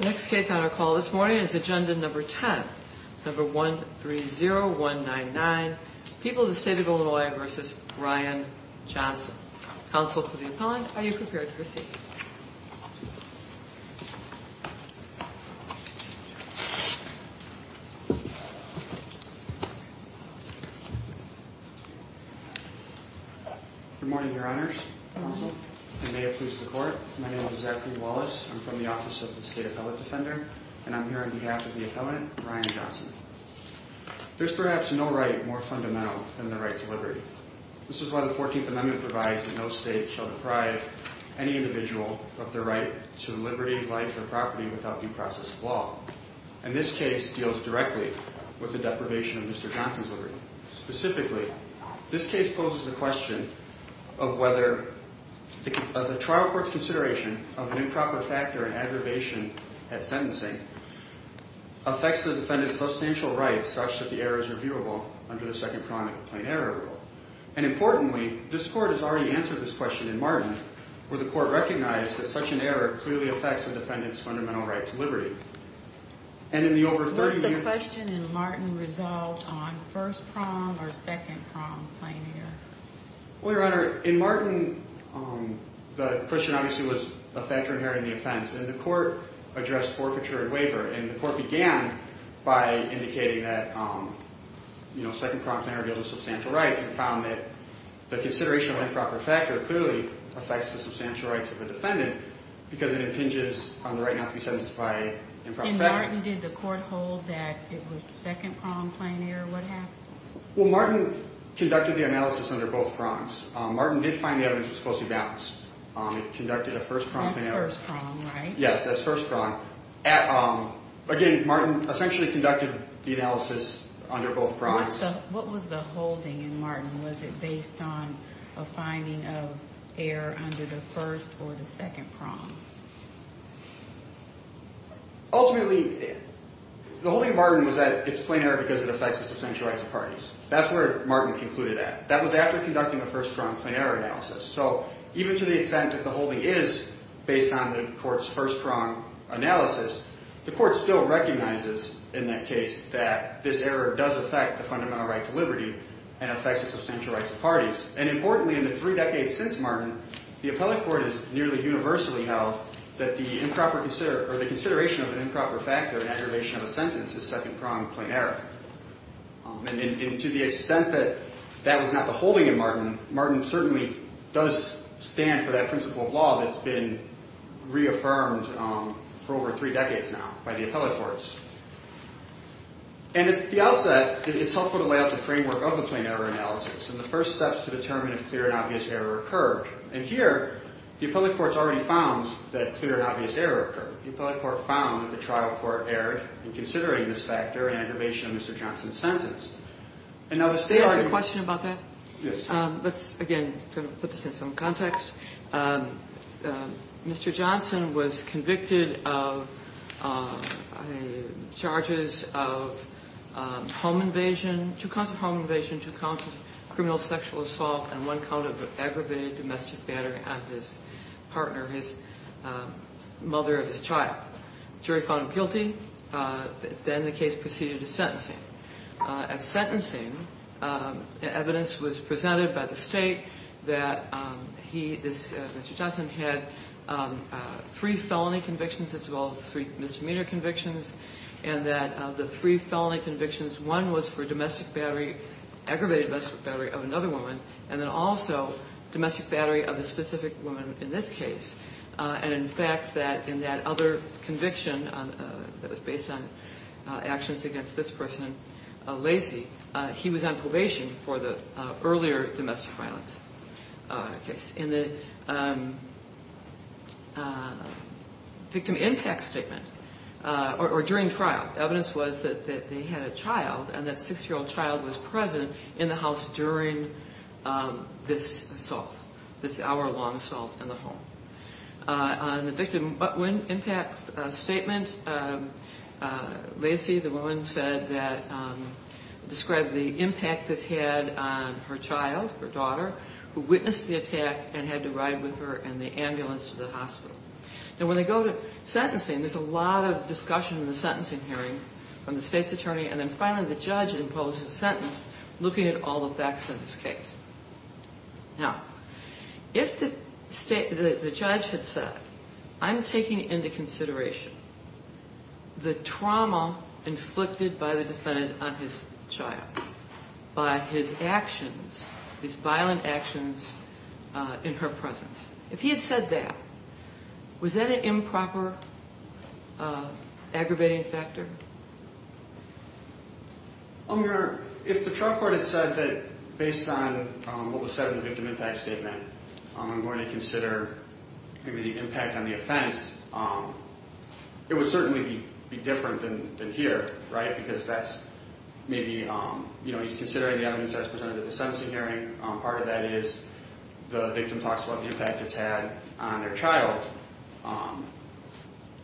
The next case on our call this morning is Agenda No. 10, No. 130199, People of the State of Illinois v. Ryan Johnson. Counsel to the appellant, are you prepared to proceed? Good morning, your honors. I may have pleased the court. My name is Zachary Wallace. I'm from the Office of the State Appellate Defender, and I'm here on behalf of the appellant, Ryan Johnson. There's perhaps no right more fundamental than the right to liberty. This is why the 14th Amendment provides that no state shall deprive any individual of their right to liberty, life, or property without due process of law. And this case deals directly with the deprivation of Mr. Johnson's liberty. Specifically, this case poses the question of whether the trial court's consideration of an improper factor in aggravation at sentencing affects the defendant's substantial rights such that the error is reviewable under the second prong of the plain error rule. And importantly, this court has already answered this question in Martin, where the court recognized that such an error clearly affects the defendant's fundamental right to liberty. What's the question in Martin resolved on first prong or second prong plain error? Well, your honor, in Martin, the question obviously was a factor inherent in the offense. And the court addressed forfeiture and waiver, and the court began by indicating that second prong plain error deals with substantial rights and found that the consideration of improper factor clearly affects the substantial rights of the defendant because it impinges on the right not to be sentenced by improper factor. In Martin, did the court hold that it was second prong plain error? What happened? Well, Martin conducted the analysis under both prongs. Martin did find the evidence was closely balanced. It conducted a first prong plain error. That's first prong, right? Yes, that's first prong. Again, Martin essentially conducted the analysis under both prongs. What was the holding in Martin? Was it based on a finding of error under the first or the second prong? Ultimately, the holding in Martin was that it's plain error because it affects the substantial rights of parties. That's where Martin concluded at. That was after conducting a first prong plain error analysis. So even to the extent that the holding is based on the court's first prong analysis, the court still recognizes in that case that this error does affect the fundamental right to liberty and affects the substantial rights of parties. And importantly, in the three decades since Martin, the appellate court has nearly universally held that the improper or the consideration of an improper factor in aggravation of a sentence is second prong plain error. And to the extent that that was not the holding in Martin, Martin certainly does stand for that principle of law that's been reaffirmed for over three decades now by the appellate courts. And at the outset, it's helpful to lay out the framework of the plain error analysis and the first steps to determine if clear and obvious error occurred. And here, the appellate court's already found that clear and obvious error occurred. The appellate court found that the trial court erred in considering this factor in aggravation of Mr. Johnson's sentence. And now the state argument... Can I ask a question about that? Yes. Let's, again, put this in some context. Mr. Johnson was convicted of charges of home invasion, two counts of home invasion, two counts of criminal sexual assault, and one count of aggravated domestic battery on his partner, his mother and his child. The jury found him guilty. Then the case proceeded to sentencing. At sentencing, evidence was presented by the state that he, Mr. Johnson, had three felony convictions as well as three misdemeanor convictions, and that of the three felony convictions, one was for domestic battery, aggravated domestic battery of another woman, and then also domestic battery of a specific woman in this case. And, in fact, that in that other conviction that was based on actions against this person, Lacey, he was on probation for the earlier domestic violence case. In the victim impact statement, or during trial, evidence was that they had a child and that six-year-old child was present in the house during this assault, this hour-long assault in the home. On the victim impact statement, Lacey, the woman, said that, described the impact this had on her child, her daughter, who witnessed the attack and had to ride with her in the ambulance to the hospital. Now, when they go to sentencing, there's a lot of discussion in the sentencing hearing from the state's attorney, and then finally the judge imposed a sentence looking at all the facts in this case. Now, if the judge had said, I'm taking into consideration the trauma inflicted by the defendant on his child by his actions, these violent actions in her presence, if he had said that, was that an improper aggravating factor? If the trial court had said that, based on what was said in the victim impact statement, I'm going to consider the impact on the offense, it would certainly be different than here, right? Because that's maybe, you know, he's considering the evidence that was presented at the sentencing hearing, part of that is the victim talks about the impact it's had on their child,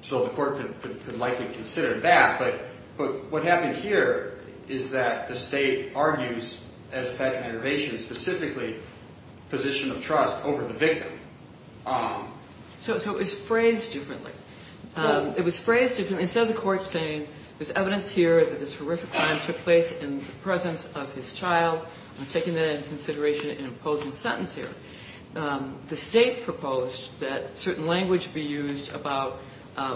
so the court could likely consider that. But what happened here is that the state argues, as a factor of intervention, specifically position of trust over the victim. So it was phrased differently. It was phrased differently. Instead of the court saying there's evidence here that this horrific crime took place in the presence of his child, I'm taking that into consideration in imposing a sentence here. The state proposed that certain language be used about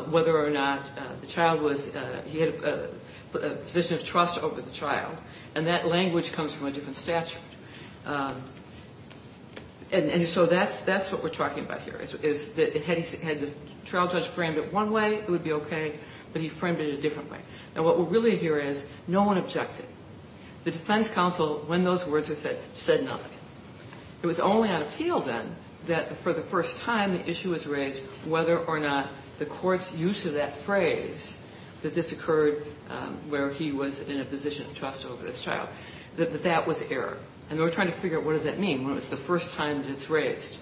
whether or not the child was, he had a position of trust over the child, and that language comes from a different statute. And so that's what we're talking about here, is that had the trial judge framed it one way, it would be okay, but he framed it a different way. And what we're really hearing is no one objected. The defense counsel, when those words were said, said nothing. It was only on appeal, then, that for the first time the issue was raised whether or not the court's use of that phrase, that this occurred where he was in a position of trust over this child, that that was error. And they were trying to figure out what does that mean when it was the first time that it's raised,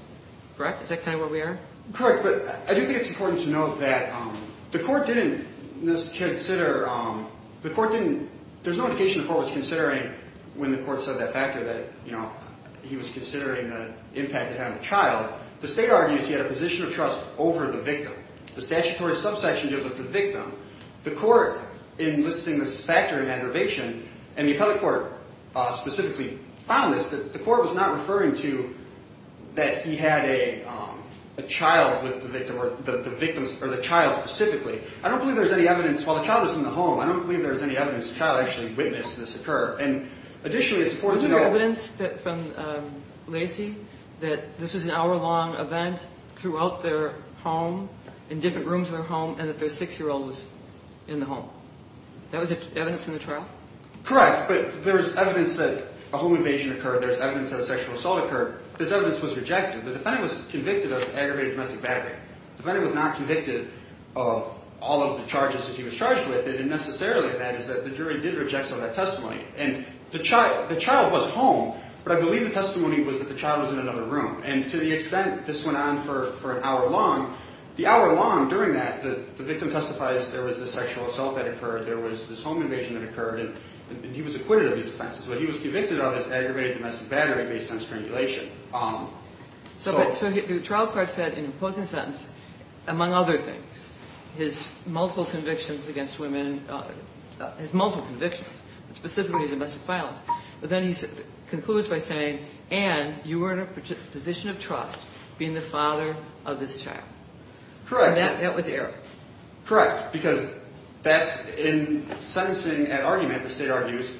correct? Is that kind of where we are? Correct, but I do think it's important to note that the court didn't consider – the court didn't – there's no indication the court was considering when the court said that factor that, you know, he was considering the impact it had on the child. The state argues he had a position of trust over the victim. The statutory subsection deals with the victim. The court, in listing this factor in aggravation, and the appellate court specifically found this, that the court was not referring to that he had a child with the victim or the victim's – or the child specifically. I don't believe there's any evidence – while the child was in the home, I don't believe there's any evidence the child actually witnessed this occur. And additionally, it's important to note – that this was an hour-long event throughout their home, in different rooms in their home, and that their six-year-old was in the home. That was evidence in the trial? Correct, but there's evidence that a home invasion occurred. There's evidence that a sexual assault occurred. This evidence was rejected. The defendant was convicted of aggravated domestic battery. The defendant was not convicted of all of the charges that he was charged with. And necessarily that is that the jury did reject some of that testimony. And the child was home, but I believe the testimony was that the child was in another room. And to the extent this went on for an hour long, the hour long during that, the victim testifies there was this sexual assault that occurred, there was this home invasion that occurred, and he was acquitted of these offenses. What he was convicted of is aggravated domestic battery based on strangulation. So the trial court said in the opposing sentence, among other things, his multiple convictions against women – his multiple convictions, specifically domestic violence. But then he concludes by saying, and you were in a position of trust being the father of this child. Correct. And that was error. Correct, because that's – in sentencing an argument, the state argues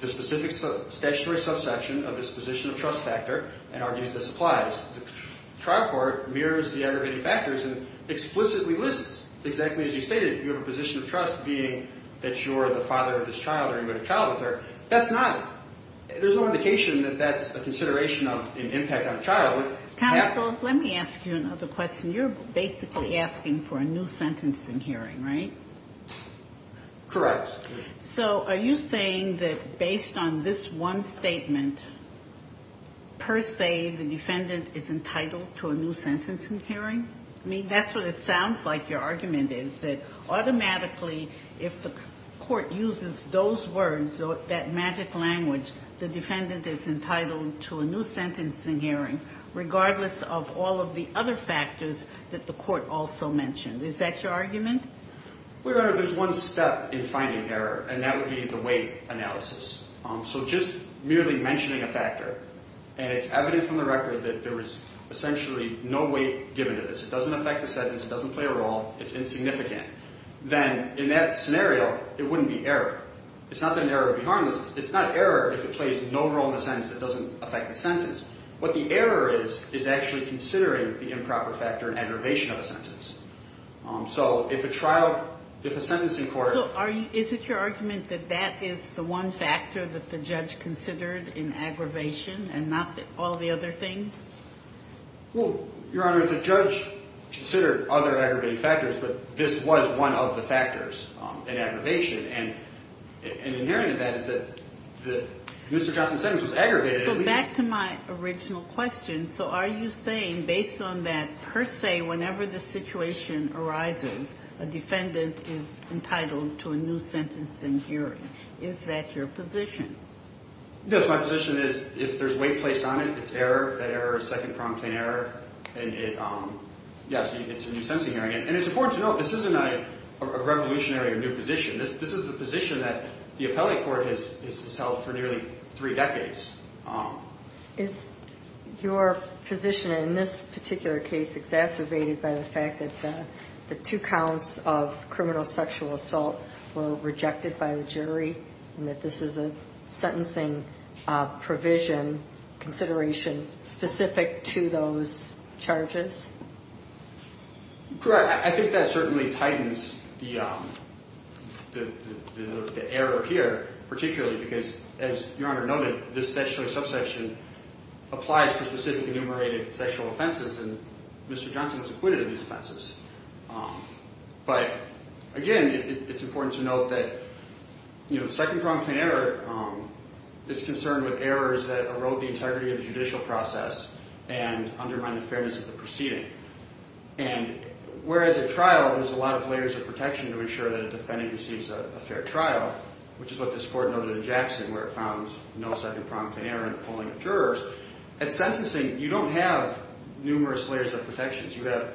the specific statutory subsection of this position of trust factor and argues this applies. The trial court mirrors the aggravated factors and explicitly lists, exactly as you stated, you have a position of trust being that you're the father of this child or you had a child with her. That's not – there's no indication that that's a consideration of an impact on a child. Counsel, let me ask you another question. You're basically asking for a new sentencing hearing, right? Correct. So are you saying that based on this one statement, per se, the defendant is entitled to a new sentencing hearing? I mean, that's what it sounds like your argument is, that automatically if the court uses those words, that magic language, the defendant is entitled to a new sentencing hearing, regardless of all of the other factors that the court also mentioned. Is that your argument? Well, Your Honor, there's one step in finding error, and that would be the weight analysis. So just merely mentioning a factor, and it's evident from the record that there was essentially no weight given to this. It doesn't affect the sentence. It doesn't play a role. It's insignificant. Then in that scenario, it wouldn't be error. It's not that an error would be harmless. It's not error if it plays no role in the sentence. It doesn't affect the sentence. What the error is is actually considering the improper factor and aggravation of a sentence. So if a trial, if a sentencing court. So is it your argument that that is the one factor that the judge considered in aggravation and not all the other things? Well, Your Honor, the judge considered other aggravating factors, but this was one of the factors in aggravation. And inherent in that is that Mr. Johnson's sentence was aggravated. So back to my original question. So are you saying, based on that per se, whenever the situation arises, a defendant is entitled to a new sentence in hearing? Is that your position? Yes. My position is if there's weight placed on it, it's error. That error is second-pronged plain error. And, yes, it's a new sentencing hearing. And it's important to note this isn't a revolutionary or new position. This is a position that the appellate court has held for nearly three decades. Is your position in this particular case exacerbated by the fact that the two counts of criminal sexual assault were rejected by the jury and that this is a sentencing provision consideration specific to those charges? Correct. Well, I think that certainly tightens the error here, particularly because, as Your Honor noted, this section of the subsection applies to specific enumerated sexual offenses, and Mr. Johnson was acquitted of these offenses. But, again, it's important to note that second-pronged plain error is concerned with errors that erode the integrity of the judicial process and undermine the fairness of the proceeding. And whereas at trial there's a lot of layers of protection to ensure that a defendant receives a fair trial, which is what this court noted in Jackson where it found no second-pronged plain error in the polling of jurors, at sentencing you don't have numerous layers of protections. You have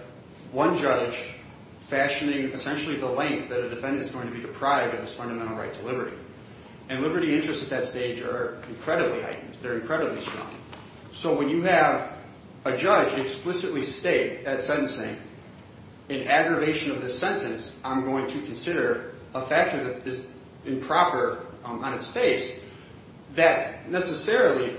one judge fashioning essentially the length that a defendant is going to be deprived of his fundamental right to liberty. And liberty interests at that stage are incredibly heightened. They're incredibly strong. So when you have a judge explicitly state at sentencing, in aggravation of this sentence, I'm going to consider a factor that is improper on its face that necessarily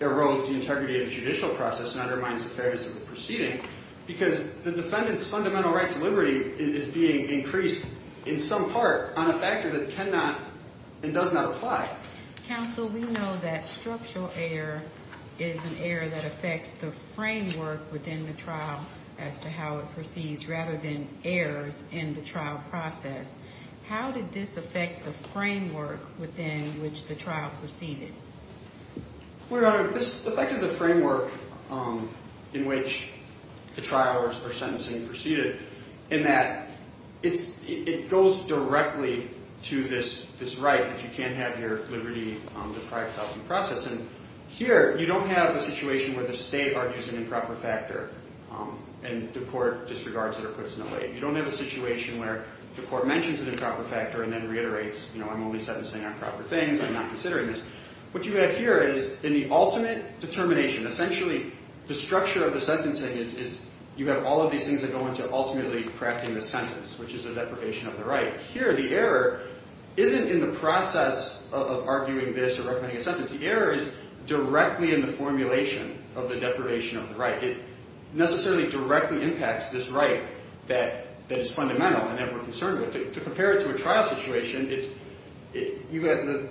erodes the integrity of the judicial process and undermines the fairness of the proceeding because the defendant's fundamental right to liberty is being increased in some part on a factor that cannot and does not apply. Counsel, we know that structural error is an error that affects the framework within the trial as to how it proceeds rather than errors in the trial process. How did this affect the framework within which the trial proceeded? Well, Your Honor, this affected the framework in which the trial or sentencing proceeded in that it goes directly to this right that you can't have your liberty deprived of in the process. And here you don't have a situation where the state argues an improper factor and the court disregards it or puts it away. You don't have a situation where the court mentions an improper factor and then reiterates, you know, I'm only sentencing on proper things. I'm not considering this. What you have here is in the ultimate determination, essentially the structure of the sentencing is you have all of these things that go into ultimately crafting the sentence, which is the deprivation of the right. Here the error isn't in the process of arguing this or recommending a sentence. The error is directly in the formulation of the deprivation of the right. It necessarily directly impacts this right that is fundamental and that we're concerned with. To compare it to a trial situation, the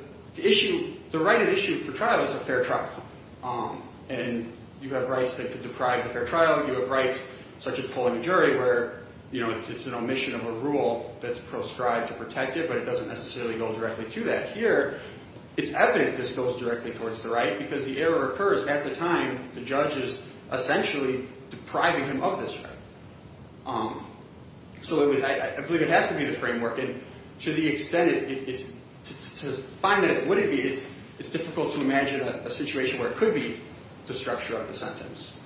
right at issue for trial is a fair trial. And you have rights that could deprive the fair trial. You have rights such as pulling a jury where, you know, it's an omission of a rule that's proscribed to protect it, but it doesn't necessarily go directly to that. Here it's evident this goes directly towards the right because the error occurs at the time the judge is essentially depriving him of this right. So I believe it has to be the framework. And to the extent, to find out what it is, it's difficult to imagine a situation where it could be the structure of the sentence.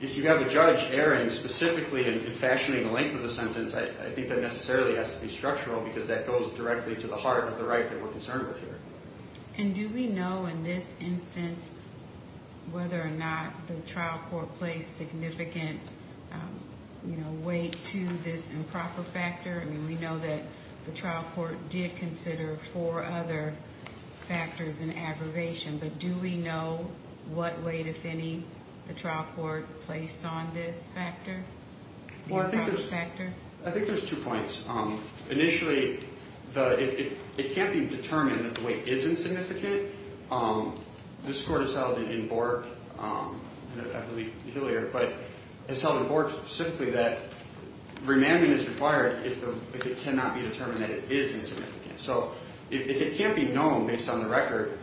If you have a judge erring specifically in fashioning the length of the sentence, I think that necessarily has to be structural because that goes directly to the heart of the right that we're concerned with here. And do we know in this instance whether or not the trial court placed significant, you know, weight to this improper factor? I mean, we know that the trial court did consider four other factors in aggravation, but do we know what weight, if any, the trial court placed on this factor? Well, I think there's two points. Initially, it can't be determined that the weight is insignificant. This court has held in Bork, and I believe Hillier, but it's held in Bork specifically that remanding is required if it cannot be determined that it is insignificant. So if it can't be known based on the record,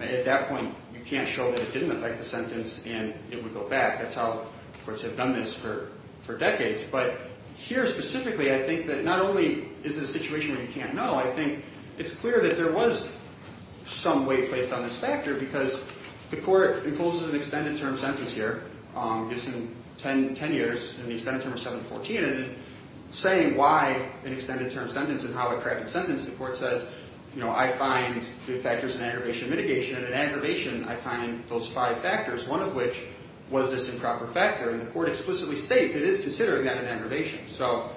at that point you can't show that it didn't affect the sentence and it would go back. That's how courts have done this for decades. But here specifically, I think that not only is it a situation where you can't know, I think it's clear that there was some weight placed on this factor because the court imposes an extended term sentence here. It's in 10 years in the extended term of 714. And in saying why an extended term sentence and how it corrected the sentence, the court says, you know, I find the factors in aggravation mitigation. And in aggravation, I find those five factors, one of which was this improper factor. And the court explicitly states it is considered, again, an aggravation. So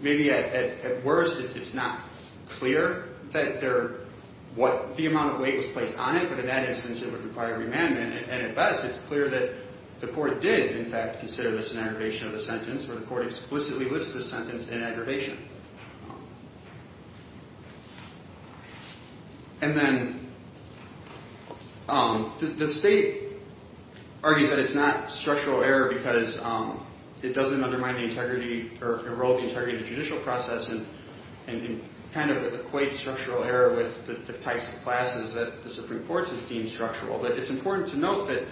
maybe at worst, it's not clear that the amount of weight was placed on it, but in that instance, it would require remandment. And at best, it's clear that the court did, in fact, consider this an aggravation of the sentence, where the court explicitly lists the sentence in aggravation. And then the state argues that it's not structural error because it doesn't undermine the integrity or erode the integrity of the judicial process and kind of equates structural error with the types of classes that the Supreme Court has deemed structural. But it's important to note that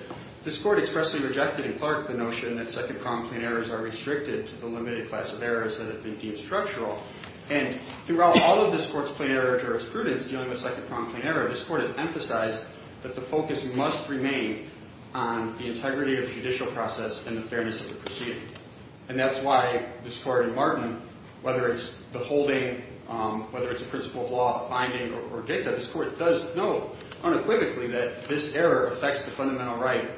this court expressly rejected in Clark the notion that second-pronged plain errors are restricted to the limited class of errors that have been deemed structural. And throughout all of this court's plain error jurisprudence, dealing with second-pronged plain error, this court has emphasized that the focus must remain on the integrity of the judicial process and the fairness of the proceeding. And that's why this court in Martin, whether it's the holding, whether it's a principle of law, a finding, or dicta, this court does note unequivocally that this error affects the fundamental right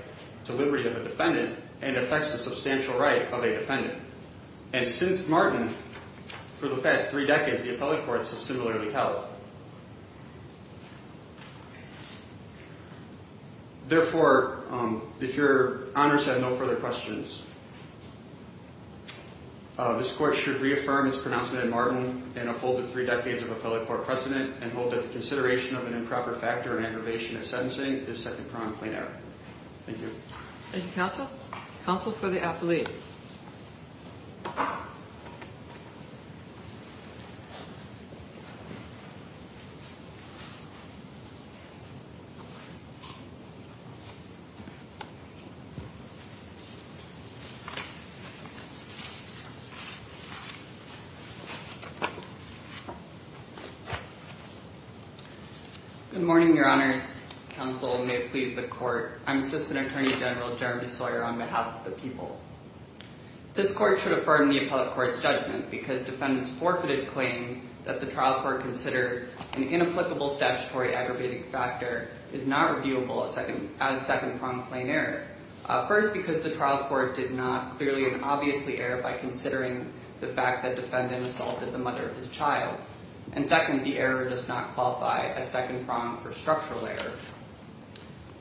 to liberty of a defendant and affects the substantial right of a defendant. And since Martin, for the past three decades, the appellate courts have similarly held. Therefore, if your honors have no further questions, this court should reaffirm its pronouncement in Martin and uphold the three decades of appellate court precedent and hold that the consideration of an improper factor in aggravation of sentencing is second-pronged plain error. Thank you. Thank you, counsel. Counsel for the appellate. Good morning, your honors. Counsel may please the court. I'm Assistant Attorney General Jeremy Sawyer on behalf of the people. This court should affirm the appellate court's judgment because defendant's forfeited claim that the trial court considered an inapplicable statutory aggravating factor is not reviewable as second-pronged plain error. First, because the trial court did not clearly and obviously err by considering the fact that defendant assaulted the mother of his child. And second, the error does not qualify as second-pronged for structural error.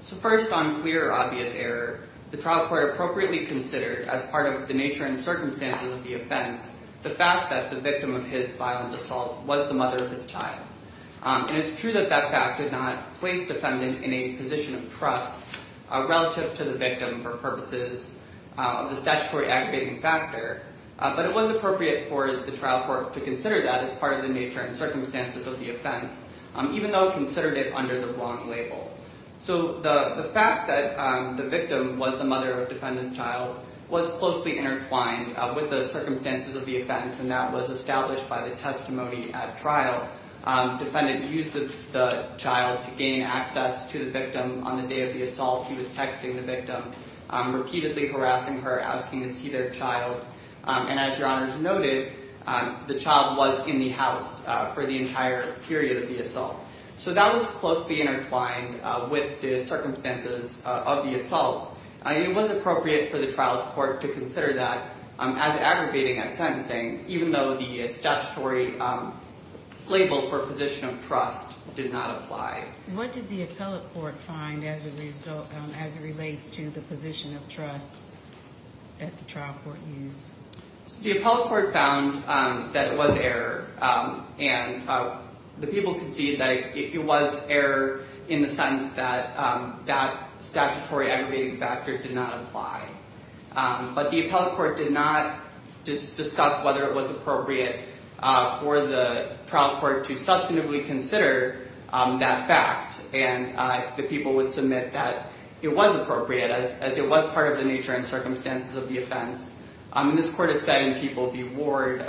So first, on clear, obvious error, the trial court appropriately considered as part of the nature and circumstances of the offense the fact that the victim of his violent assault was the mother of his child. And it's true that that fact did not place defendant in a position of trust relative to the victim for purposes of the statutory aggravating factor. But it was appropriate for the trial court to consider that as part of the nature and circumstances of the offense, even though it considered it under the wrong label. So the fact that the victim was the mother of defendant's child was closely intertwined with the circumstances of the offense, and that was established by the testimony at trial. Defendant used the child to gain access to the victim on the day of the assault. He was texting the victim, repeatedly harassing her, asking to see their child. And as Your Honors noted, the child was in the house for the entire period of the assault. So that was closely intertwined with the circumstances of the assault. It was appropriate for the trial court to consider that as aggravating at sentencing, even though the statutory label for position of trust did not apply. What did the appellate court find as it relates to the position of trust that the trial court used? The appellate court found that it was error. And the people conceded that it was error in the sense that that statutory aggravating factor did not apply. But the appellate court did not discuss whether it was appropriate for the trial court to substantively consider that fact. And the people would submit that it was appropriate, as it was part of the nature and circumstances of the offense. And this court is saying, people be warned,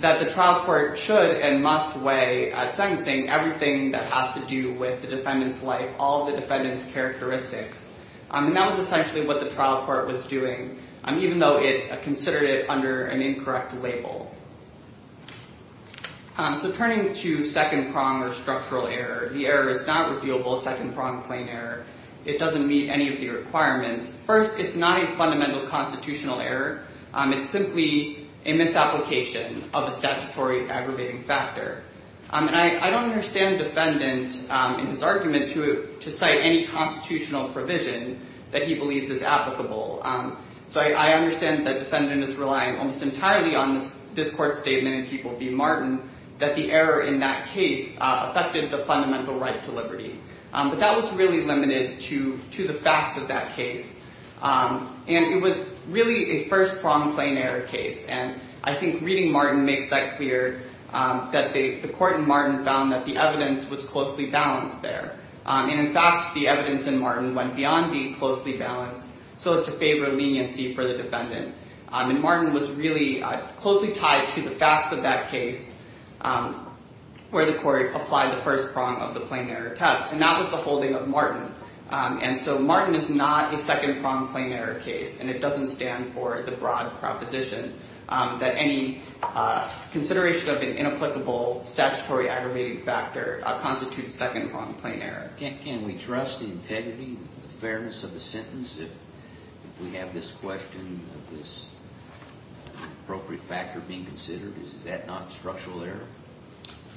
that the trial court should and must weigh at sentencing everything that has to do with the defendant's life, all the defendant's characteristics. And that was essentially what the trial court was doing, even though it considered it under an incorrect label. So turning to second prong or structural error, the error is not reviewable second prong plain error. It doesn't meet any of the requirements. First, it's not a fundamental constitutional error. It's simply a misapplication of a statutory aggravating factor. And I don't understand the defendant in his argument to cite any constitutional provision that he believes is applicable. So I understand that the defendant is relying almost entirely on this court statement, people be Martin, that the error in that case affected the fundamental right to liberty. But that was really limited to the facts of that case. And it was really a first prong plain error case. And I think reading Martin makes that clear, that the court in Martin found that the evidence was closely balanced there. And in fact, the evidence in Martin went beyond being closely balanced so as to favor leniency for the defendant. And Martin was really closely tied to the facts of that case where the court applied the first prong of the plain error test. And that was the holding of Martin. And so Martin is not a second prong plain error case. And it doesn't stand for the broad proposition that any consideration of an inapplicable statutory aggravating factor constitutes second prong plain error. Can we trust the integrity and the fairness of the sentence if we have this question of this appropriate factor being considered? Is that not structural error?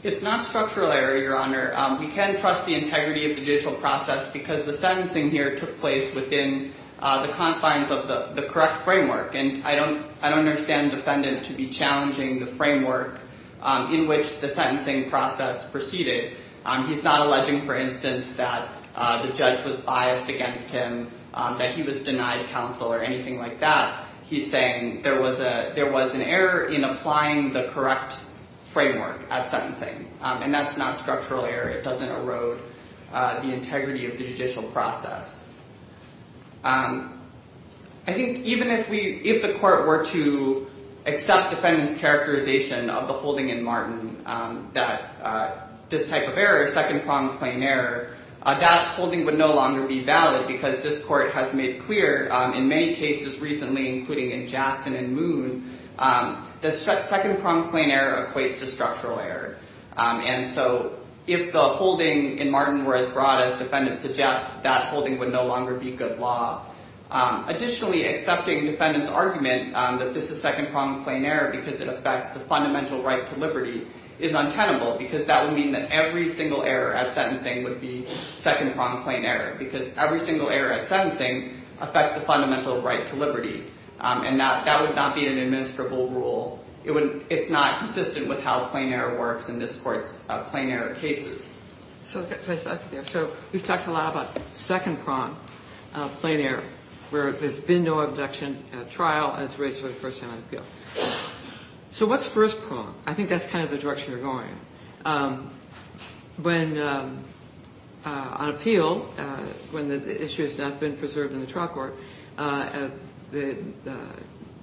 It's not structural error, Your Honor. We can trust the integrity of the judicial process because the sentencing here took place within the confines of the correct framework. And I don't understand the defendant to be challenging the framework in which the sentencing process proceeded. He's not alleging, for instance, that the judge was biased against him, that he was denied counsel or anything like that. He's saying there was an error in applying the correct framework at sentencing. And that's not structural error. It doesn't erode the integrity of the judicial process. I think even if the court were to accept defendant's characterization of the holding in Martin that this type of error, second prong plain error, that holding would no longer be valid because this court has made clear in many cases recently, including in Jackson and Moon, the second prong plain error equates to structural error. And so if the holding in Martin were as broad as defendant suggests, that holding would no longer be good law. Additionally, accepting defendant's argument that this is second prong plain error because it affects the fundamental right to liberty is untenable because that would mean that every single error at sentencing would be second prong plain error because every single error at sentencing affects the fundamental right to liberty. And that would not be an administrable rule. It's not consistent with how plain error works in this court's plain error cases. So we've talked a lot about second prong plain error where there's been no abduction at trial and it's raised for the first time on appeal. So what's first prong? I think that's kind of the direction you're going. When on appeal, when the issue has not been preserved in the trial court, the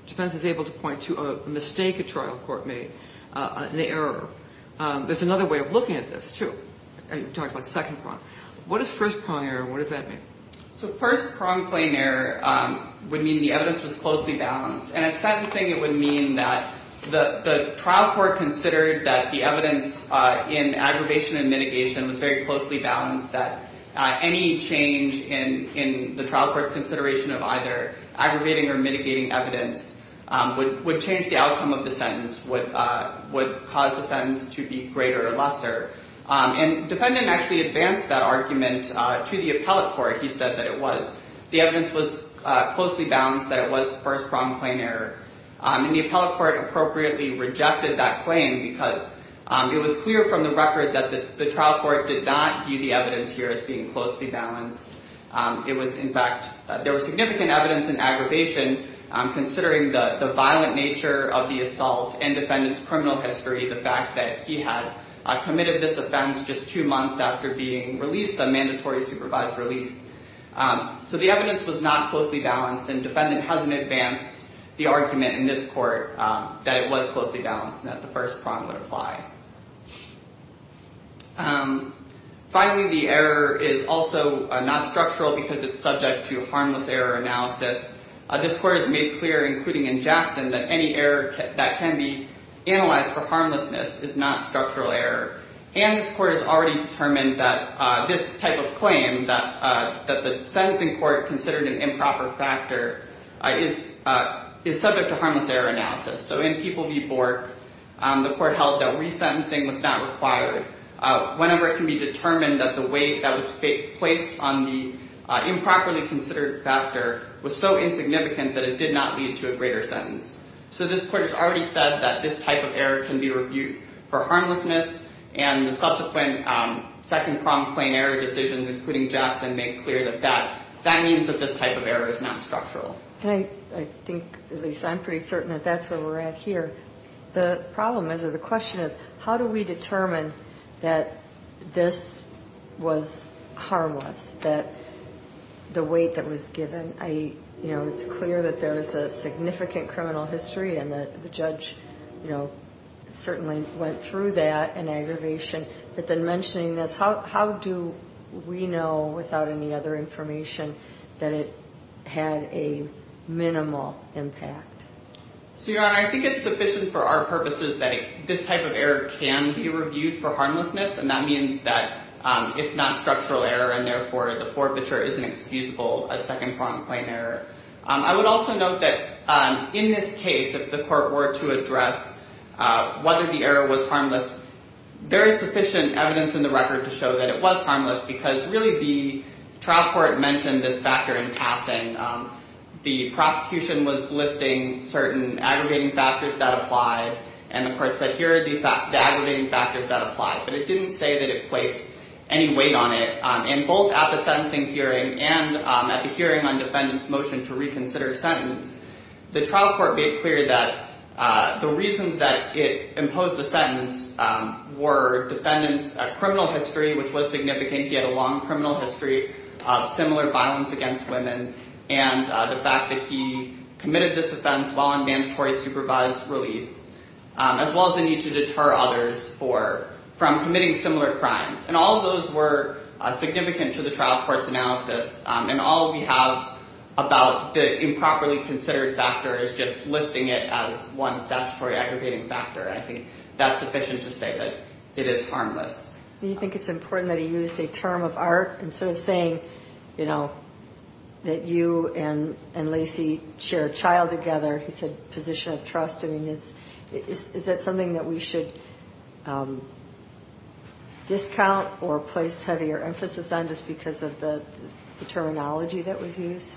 defense is able to point to a mistake a trial court made, an error. There's another way of looking at this, too. You talked about second prong. What is first prong error and what does that mean? So first prong plain error would mean the evidence was closely balanced. And at sentencing it would mean that the trial court considered that the evidence in aggravation and mitigation was very closely balanced, that any change in the trial court's consideration of either aggravating or mitigating evidence would change the outcome of the sentence, would cause the sentence to be greater or lesser. And the defendant actually advanced that argument to the appellate court. He said that it was. The evidence was closely balanced, that it was first prong plain error. And the appellate court appropriately rejected that claim because it was clear from the record that the trial court did not view the evidence here as being closely balanced. It was, in fact, there was significant evidence in aggravation considering the violent nature of the assault and defendant's criminal history, the fact that he had committed this offense just two months after being released, a mandatory supervised release. So the evidence was not closely balanced and defendant hasn't advanced the argument in this court that it was closely balanced and that the first prong would apply. Finally, the error is also not structural because it's subject to harmless error analysis. This court has made clear, including in Jackson, that any error that can be analyzed for harmlessness is not structural error. And this court has already determined that this type of claim, that the sentencing court considered an improper factor, is subject to harmless error analysis. So in People v. Bork, the court held that resentencing was not required. Whenever it can be determined that the weight that was placed on the improperly considered factor was so insignificant that it did not lead to a greater sentence. So this court has already said that this type of error can be reviewed for harmlessness. And the subsequent second prong plain error decisions, including Jackson, make clear that that means that this type of error is not structural. I think at least I'm pretty certain that that's where we're at here. The problem is, or the question is, how do we determine that this was harmless, that the weight that was given? You know, it's clear that there is a significant criminal history and that the judge, you know, certainly went through that and aggravation. But then mentioning this, how do we know without any other information that it had a minimal impact? So, Your Honor, I think it's sufficient for our purposes that this type of error can be reviewed for harmlessness. And that means that it's not structural error and therefore the forfeiture isn't excusable as second prong plain error. I would also note that in this case, if the court were to address whether the error was harmless, there is sufficient evidence in the record to show that it was harmless because really the trial court mentioned this factor in passing. And the prosecution was listing certain aggregating factors that apply. And the court said, here are the aggravating factors that apply. But it didn't say that it placed any weight on it. And both at the sentencing hearing and at the hearing on defendant's motion to reconsider a sentence, the trial court made clear that the reasons that it imposed the sentence were defendant's criminal history, which was significant. He had a long criminal history of similar violence against women, and the fact that he committed this offense while on mandatory supervised release, as well as the need to deter others from committing similar crimes. And all of those were significant to the trial court's analysis. And all we have about the improperly considered factor is just listing it as one statutory aggregating factor. I think that's sufficient to say that it is harmless. Do you think it's important that he used a term of art? Instead of saying, you know, that you and Lacey share a child together, he said position of trust. I mean, is that something that we should discount or place heavier emphasis on just because of the terminology that was used?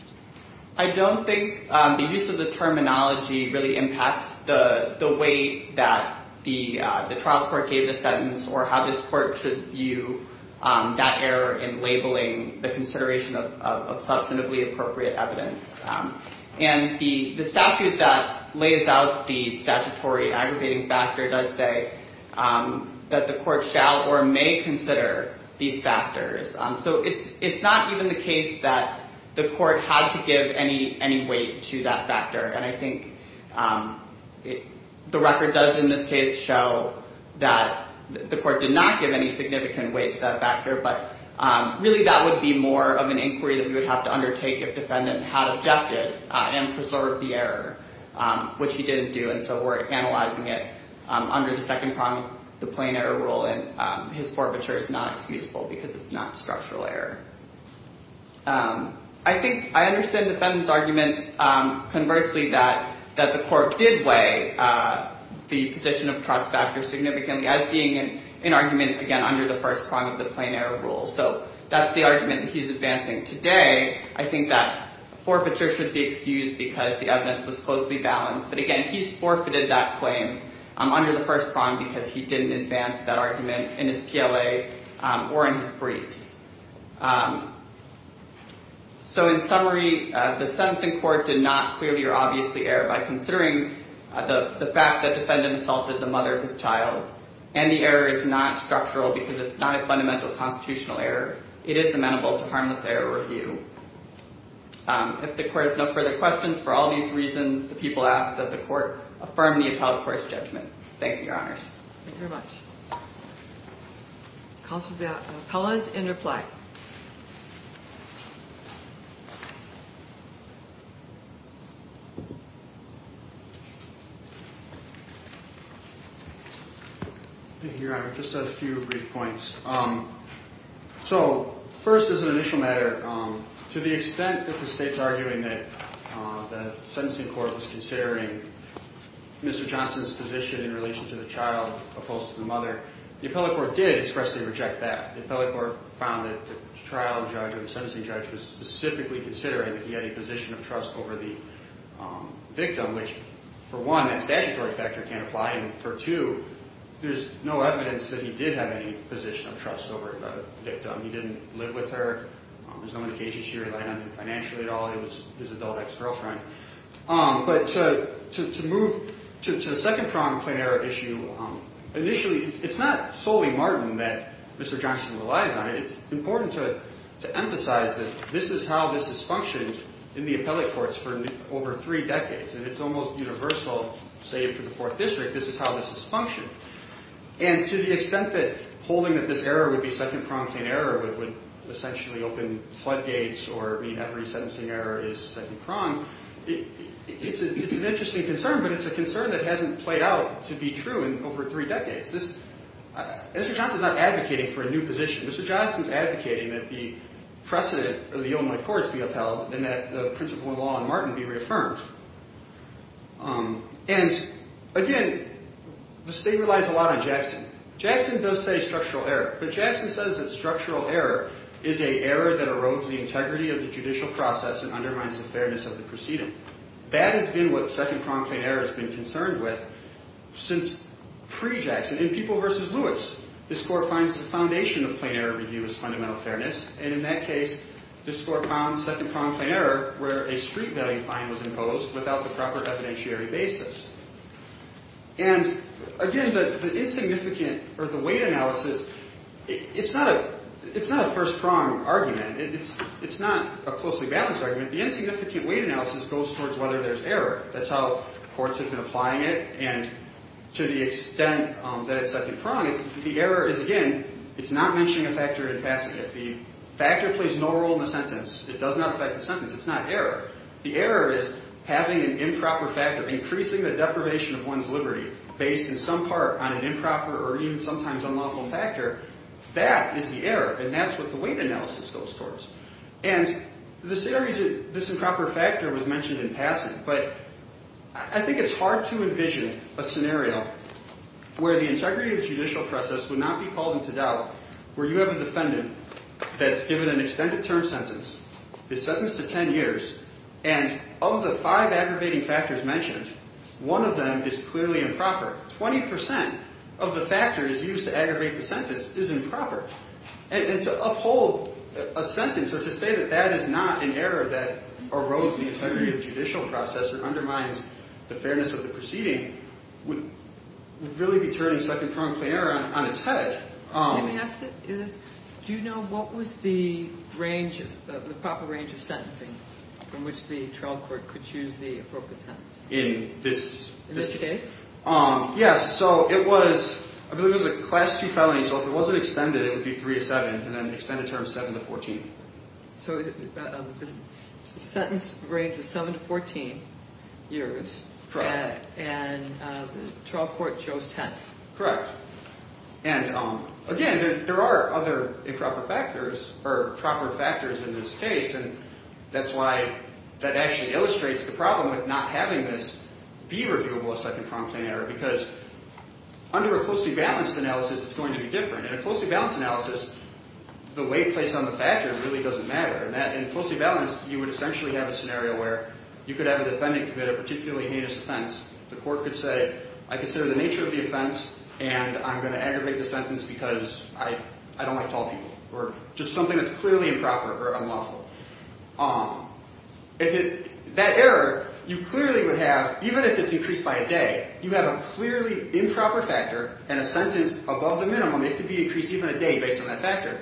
I don't think the use of the terminology really impacts the way that the trial court gave the sentence or how this court should view that error in labeling the consideration of substantively appropriate evidence. And the statute that lays out the statutory aggregating factor does say that the court shall or may consider these factors. So it's not even the case that the court had to give any weight to that factor. And I think the record does in this case show that the court did not give any significant weight to that factor. But really, that would be more of an inquiry that we would have to undertake if defendant had objected and preserved the error, which he didn't do. And so we're analyzing it under the second prong of the plain error rule. And his forfeiture is not excusable because it's not structural error. I think I understand the defendant's argument, conversely, that the court did weigh the position of trust factor significantly as being an argument, again, under the first prong of the plain error rule. So that's the argument that he's advancing today. I think that forfeiture should be excused because the evidence was closely balanced. But again, he's forfeited that claim under the first prong because he didn't advance that argument in his PLA or in his briefs. So in summary, the sentencing court did not clearly or obviously err by considering the fact that defendant assaulted the mother of his child. And the error is not structural because it's not a fundamental constitutional error. It is amenable to harmless error review. If the court has no further questions, for all these reasons, the people ask that the court affirm the appellate court's judgment. Thank you, Your Honors. Thank you very much. Counsel's appellate, and reply. Thank you, Your Honor. Just a few brief points. So first as an initial matter, to the extent that the state's arguing that the sentencing court was considering Mr. Johnson's position in relation to the child opposed to the mother, the appellate court did expressly reject that. The appellate court found that the trial judge or the sentencing judge was specifically considering that he had a position of trust over the victim, which for one, that statutory factor can't apply. And for two, there's no evidence that he did have any position of trust over the victim. He didn't live with her. There's no indication she relied on him financially at all. It was his adult ex-girlfriend. But to move to the second pronged plain error issue, initially, it's not solely Martin that Mr. Johnson relies on. It's important to emphasize that this is how this has functioned in the appellate courts for over three decades. And it's almost universal, save for the Fourth District, this is how this has functioned. And to the extent that holding that this error would be second pronged plain error would essentially open floodgates or mean every sentencing error is second pronged, it's an interesting concern. But it's a concern that hasn't played out to be true in over three decades. Mr. Johnson's not advocating for a new position. Mr. Johnson's advocating that the precedent of the Illinois courts be upheld and that the principle of law on Martin be reaffirmed. And, again, the state relies a lot on Jackson. Jackson does say structural error. But Jackson says that structural error is an error that erodes the integrity of the judicial process and undermines the fairness of the proceeding. That has been what second pronged plain error has been concerned with since pre-Jackson. In People v. Lewis, this court finds the foundation of plain error review is fundamental fairness. And in that case, this court found second pronged plain error where a street value fine was imposed without the proper evidentiary basis. And, again, the insignificant or the weight analysis, it's not a first prong argument. It's not a closely balanced argument. The insignificant weight analysis goes towards whether there's error. That's how courts have been applying it. And to the extent that it's second pronged, the error is, again, it's not mentioning a factor in passing. If the factor plays no role in the sentence, it does not affect the sentence. It's not error. The error is having an improper factor, increasing the deprivation of one's liberty based in some part on an improper or even sometimes unlawful factor. That is the error. And that's what the weight analysis goes towards. And the scenario is this improper factor was mentioned in passing, but I think it's hard to envision a scenario where the integrity of the judicial process would not be called into doubt where you have a defendant that's given an extended term sentence, is sentenced to 10 years, and of the five aggravating factors mentioned, one of them is clearly improper. Twenty percent of the factors used to aggravate the sentence is improper. And to uphold a sentence or to say that that is not an error that erodes the integrity of the judicial process or undermines the fairness of the proceeding would really be turning second pronged plain error on its head. Let me ask you this. Do you know what was the range, the proper range of sentencing from which the trial court could choose the appropriate sentence? In this case? Yes. So it was, I believe it was a Class II felony. So if it wasn't extended, it would be 3 to 7, and then extended term 7 to 14. So the sentence range was 7 to 14 years. And the trial court chose 10. Correct. And, again, there are other improper factors or proper factors in this case, and that's why that actually illustrates the problem with not having this be reviewable as second pronged plain error because under a closely balanced analysis, it's going to be different. In a closely balanced analysis, the weight placed on the factor really doesn't matter. In closely balanced, you would essentially have a scenario where you could have a defendant commit a particularly heinous offense. The court could say, I consider the nature of the offense, and I'm going to aggravate the sentence because I don't like tall people or just something that's clearly improper or unlawful. That error, you clearly would have, even if it's increased by a day, you have a clearly improper factor and a sentence above the minimum. It could be increased even a day based on that factor.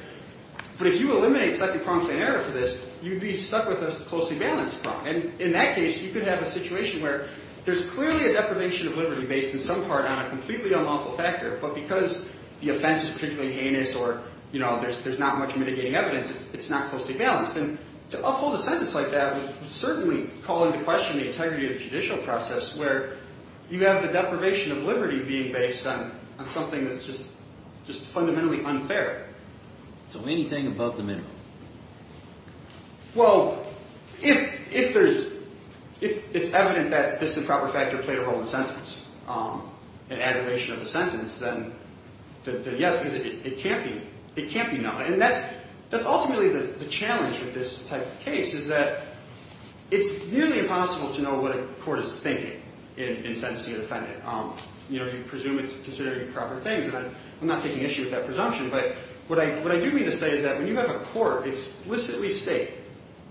But if you eliminate second pronged plain error for this, you'd be stuck with a closely balanced prong. And in that case, you could have a situation where there's clearly a deprivation of liberty based in some part on a completely unlawful factor, but because the offense is particularly heinous or there's not much mitigating evidence, it's not closely balanced. And to uphold a sentence like that would certainly call into question the integrity of the judicial process where you have the deprivation of liberty being based on something that's just fundamentally unfair. So anything above the minimum. Well, if it's evident that this improper factor played a role in the sentence, an aggravation of the sentence, then yes, because it can't be not. And that's ultimately the challenge with this type of case, is that it's nearly impossible to know what a court is thinking in sentencing a defendant. You presume it's considering improper things, and I'm not taking issue with that presumption. But what I do mean to say is that when you have a court explicitly state,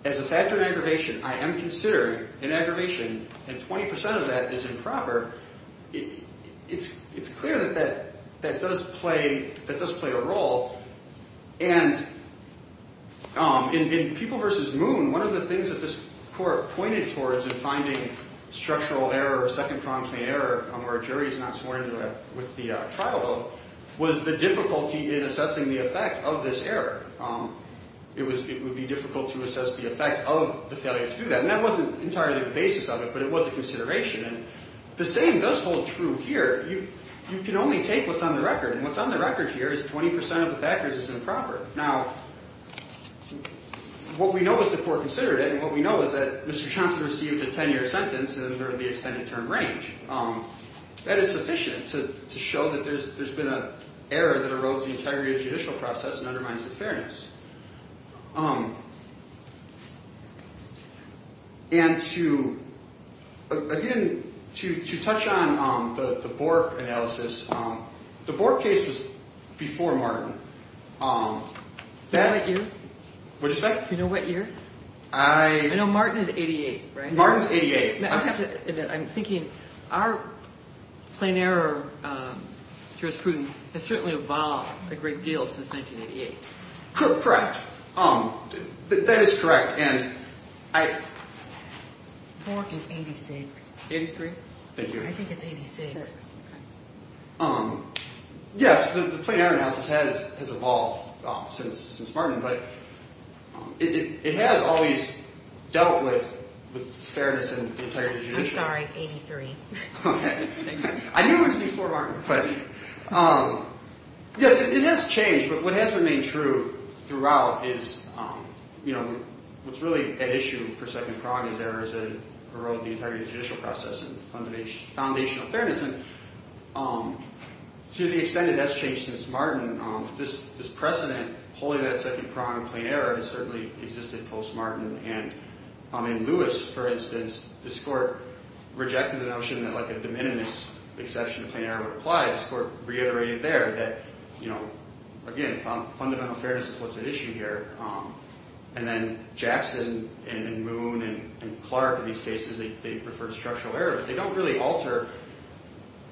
as a factor in aggravation, I am considering an aggravation and 20 percent of that is improper, it's clear that that does play a role. And in People v. Moon, one of the things that this court pointed towards in finding structural error or second-pronged claim error where a jury is not sworn in with the trial oath was the difficulty in assessing the effect of this error. It would be difficult to assess the effect of the failure to do that. And that wasn't entirely the basis of it, but it was a consideration. And the same does hold true here. You can only take what's on the record, and what's on the record here is 20 percent of the factors is improper. Now, what we know is the court considered it, and what we know is that Mr. Johnson received a 10-year sentence under the extended term range. That is sufficient to show that there's been an error that erodes the integrity of judicial process and undermines the fairness. And to, again, to touch on the Bork analysis, the Bork case was before Martin. Do you know what year? I know Martin is 88, right? Martin is 88. I have to admit, I'm thinking our claim error jurisprudence has certainly evolved a great deal since 1988. Correct. That is correct. Bork is 86. 83? Thank you. I think it's 86. Yes, the claim error analysis has evolved since Martin, but it has always dealt with fairness and integrity of judicial. I'm sorry, 83. Okay. I knew it was before Martin. Yes, it has changed, but what has remained true throughout is, you know, what's really at issue for second prong is errors that erode the integrity of judicial process and foundation of fairness. And to the extent that that's changed since Martin, this precedent holding that second prong in claim error has certainly existed post-Martin. And in Lewis, for instance, this court rejected the notion that, like, a de minimis exception to claim error would apply. This court reiterated there that, you know, again, fundamental fairness is what's at issue here. And then Jackson and Moon and Clark, in these cases, they refer to structural error. They don't really alter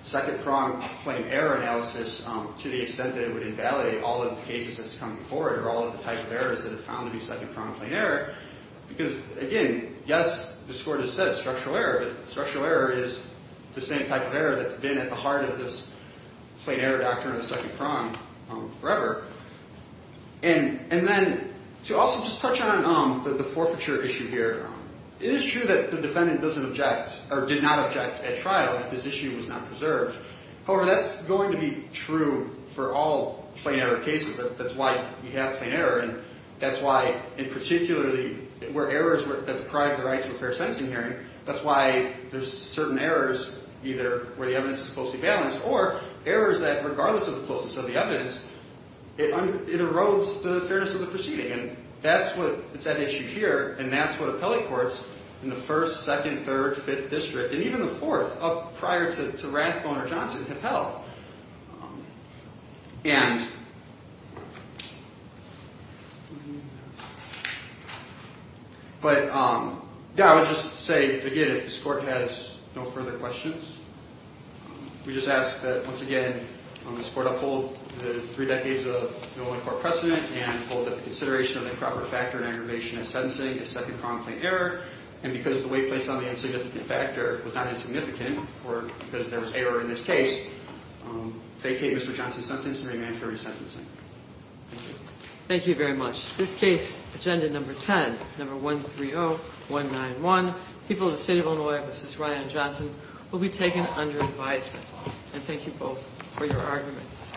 second prong claim error analysis to the extent that it would invalidate all of the cases that's come before it or all of the types of errors that have found to be second prong claim error. Because, again, yes, this court has said structural error, but structural error is the same type of error that's been at the heart of this claim error doctrine of the second prong forever. And then to also just touch on the forfeiture issue here, it is true that the defendant doesn't object or did not object at trial, that this issue was not preserved. However, that's going to be true for all claim error cases. That's why we have claim error. And that's why in particularly where errors that deprive the right to a fair sentencing hearing, that's why there's certain errors either where the evidence is closely balanced or errors that regardless of the closeness of the evidence, it erodes the fairness of the proceeding. And that's what's at issue here, and that's what appellate courts in the first, second, third, fifth district, and even the fourth up prior to Rathbone or Johnson have held. But, yeah, I would just say, again, if this court has no further questions, we just ask that, once again, this court uphold the three decades of the Olin Court precedent and hold the consideration of the proper factor in aggravation of sentencing as second prong claim error. And because the weight placed on the insignificant factor was not insignificant, because there was error in this case, vacate Mr. Johnson's sentence and remand him for resentencing. Thank you. Thank you very much. This case, Agenda Number 10, Number 130191, People of the State of Illinois v. Ryan Johnson, will be taken under advisement. And thank you both for your arguments.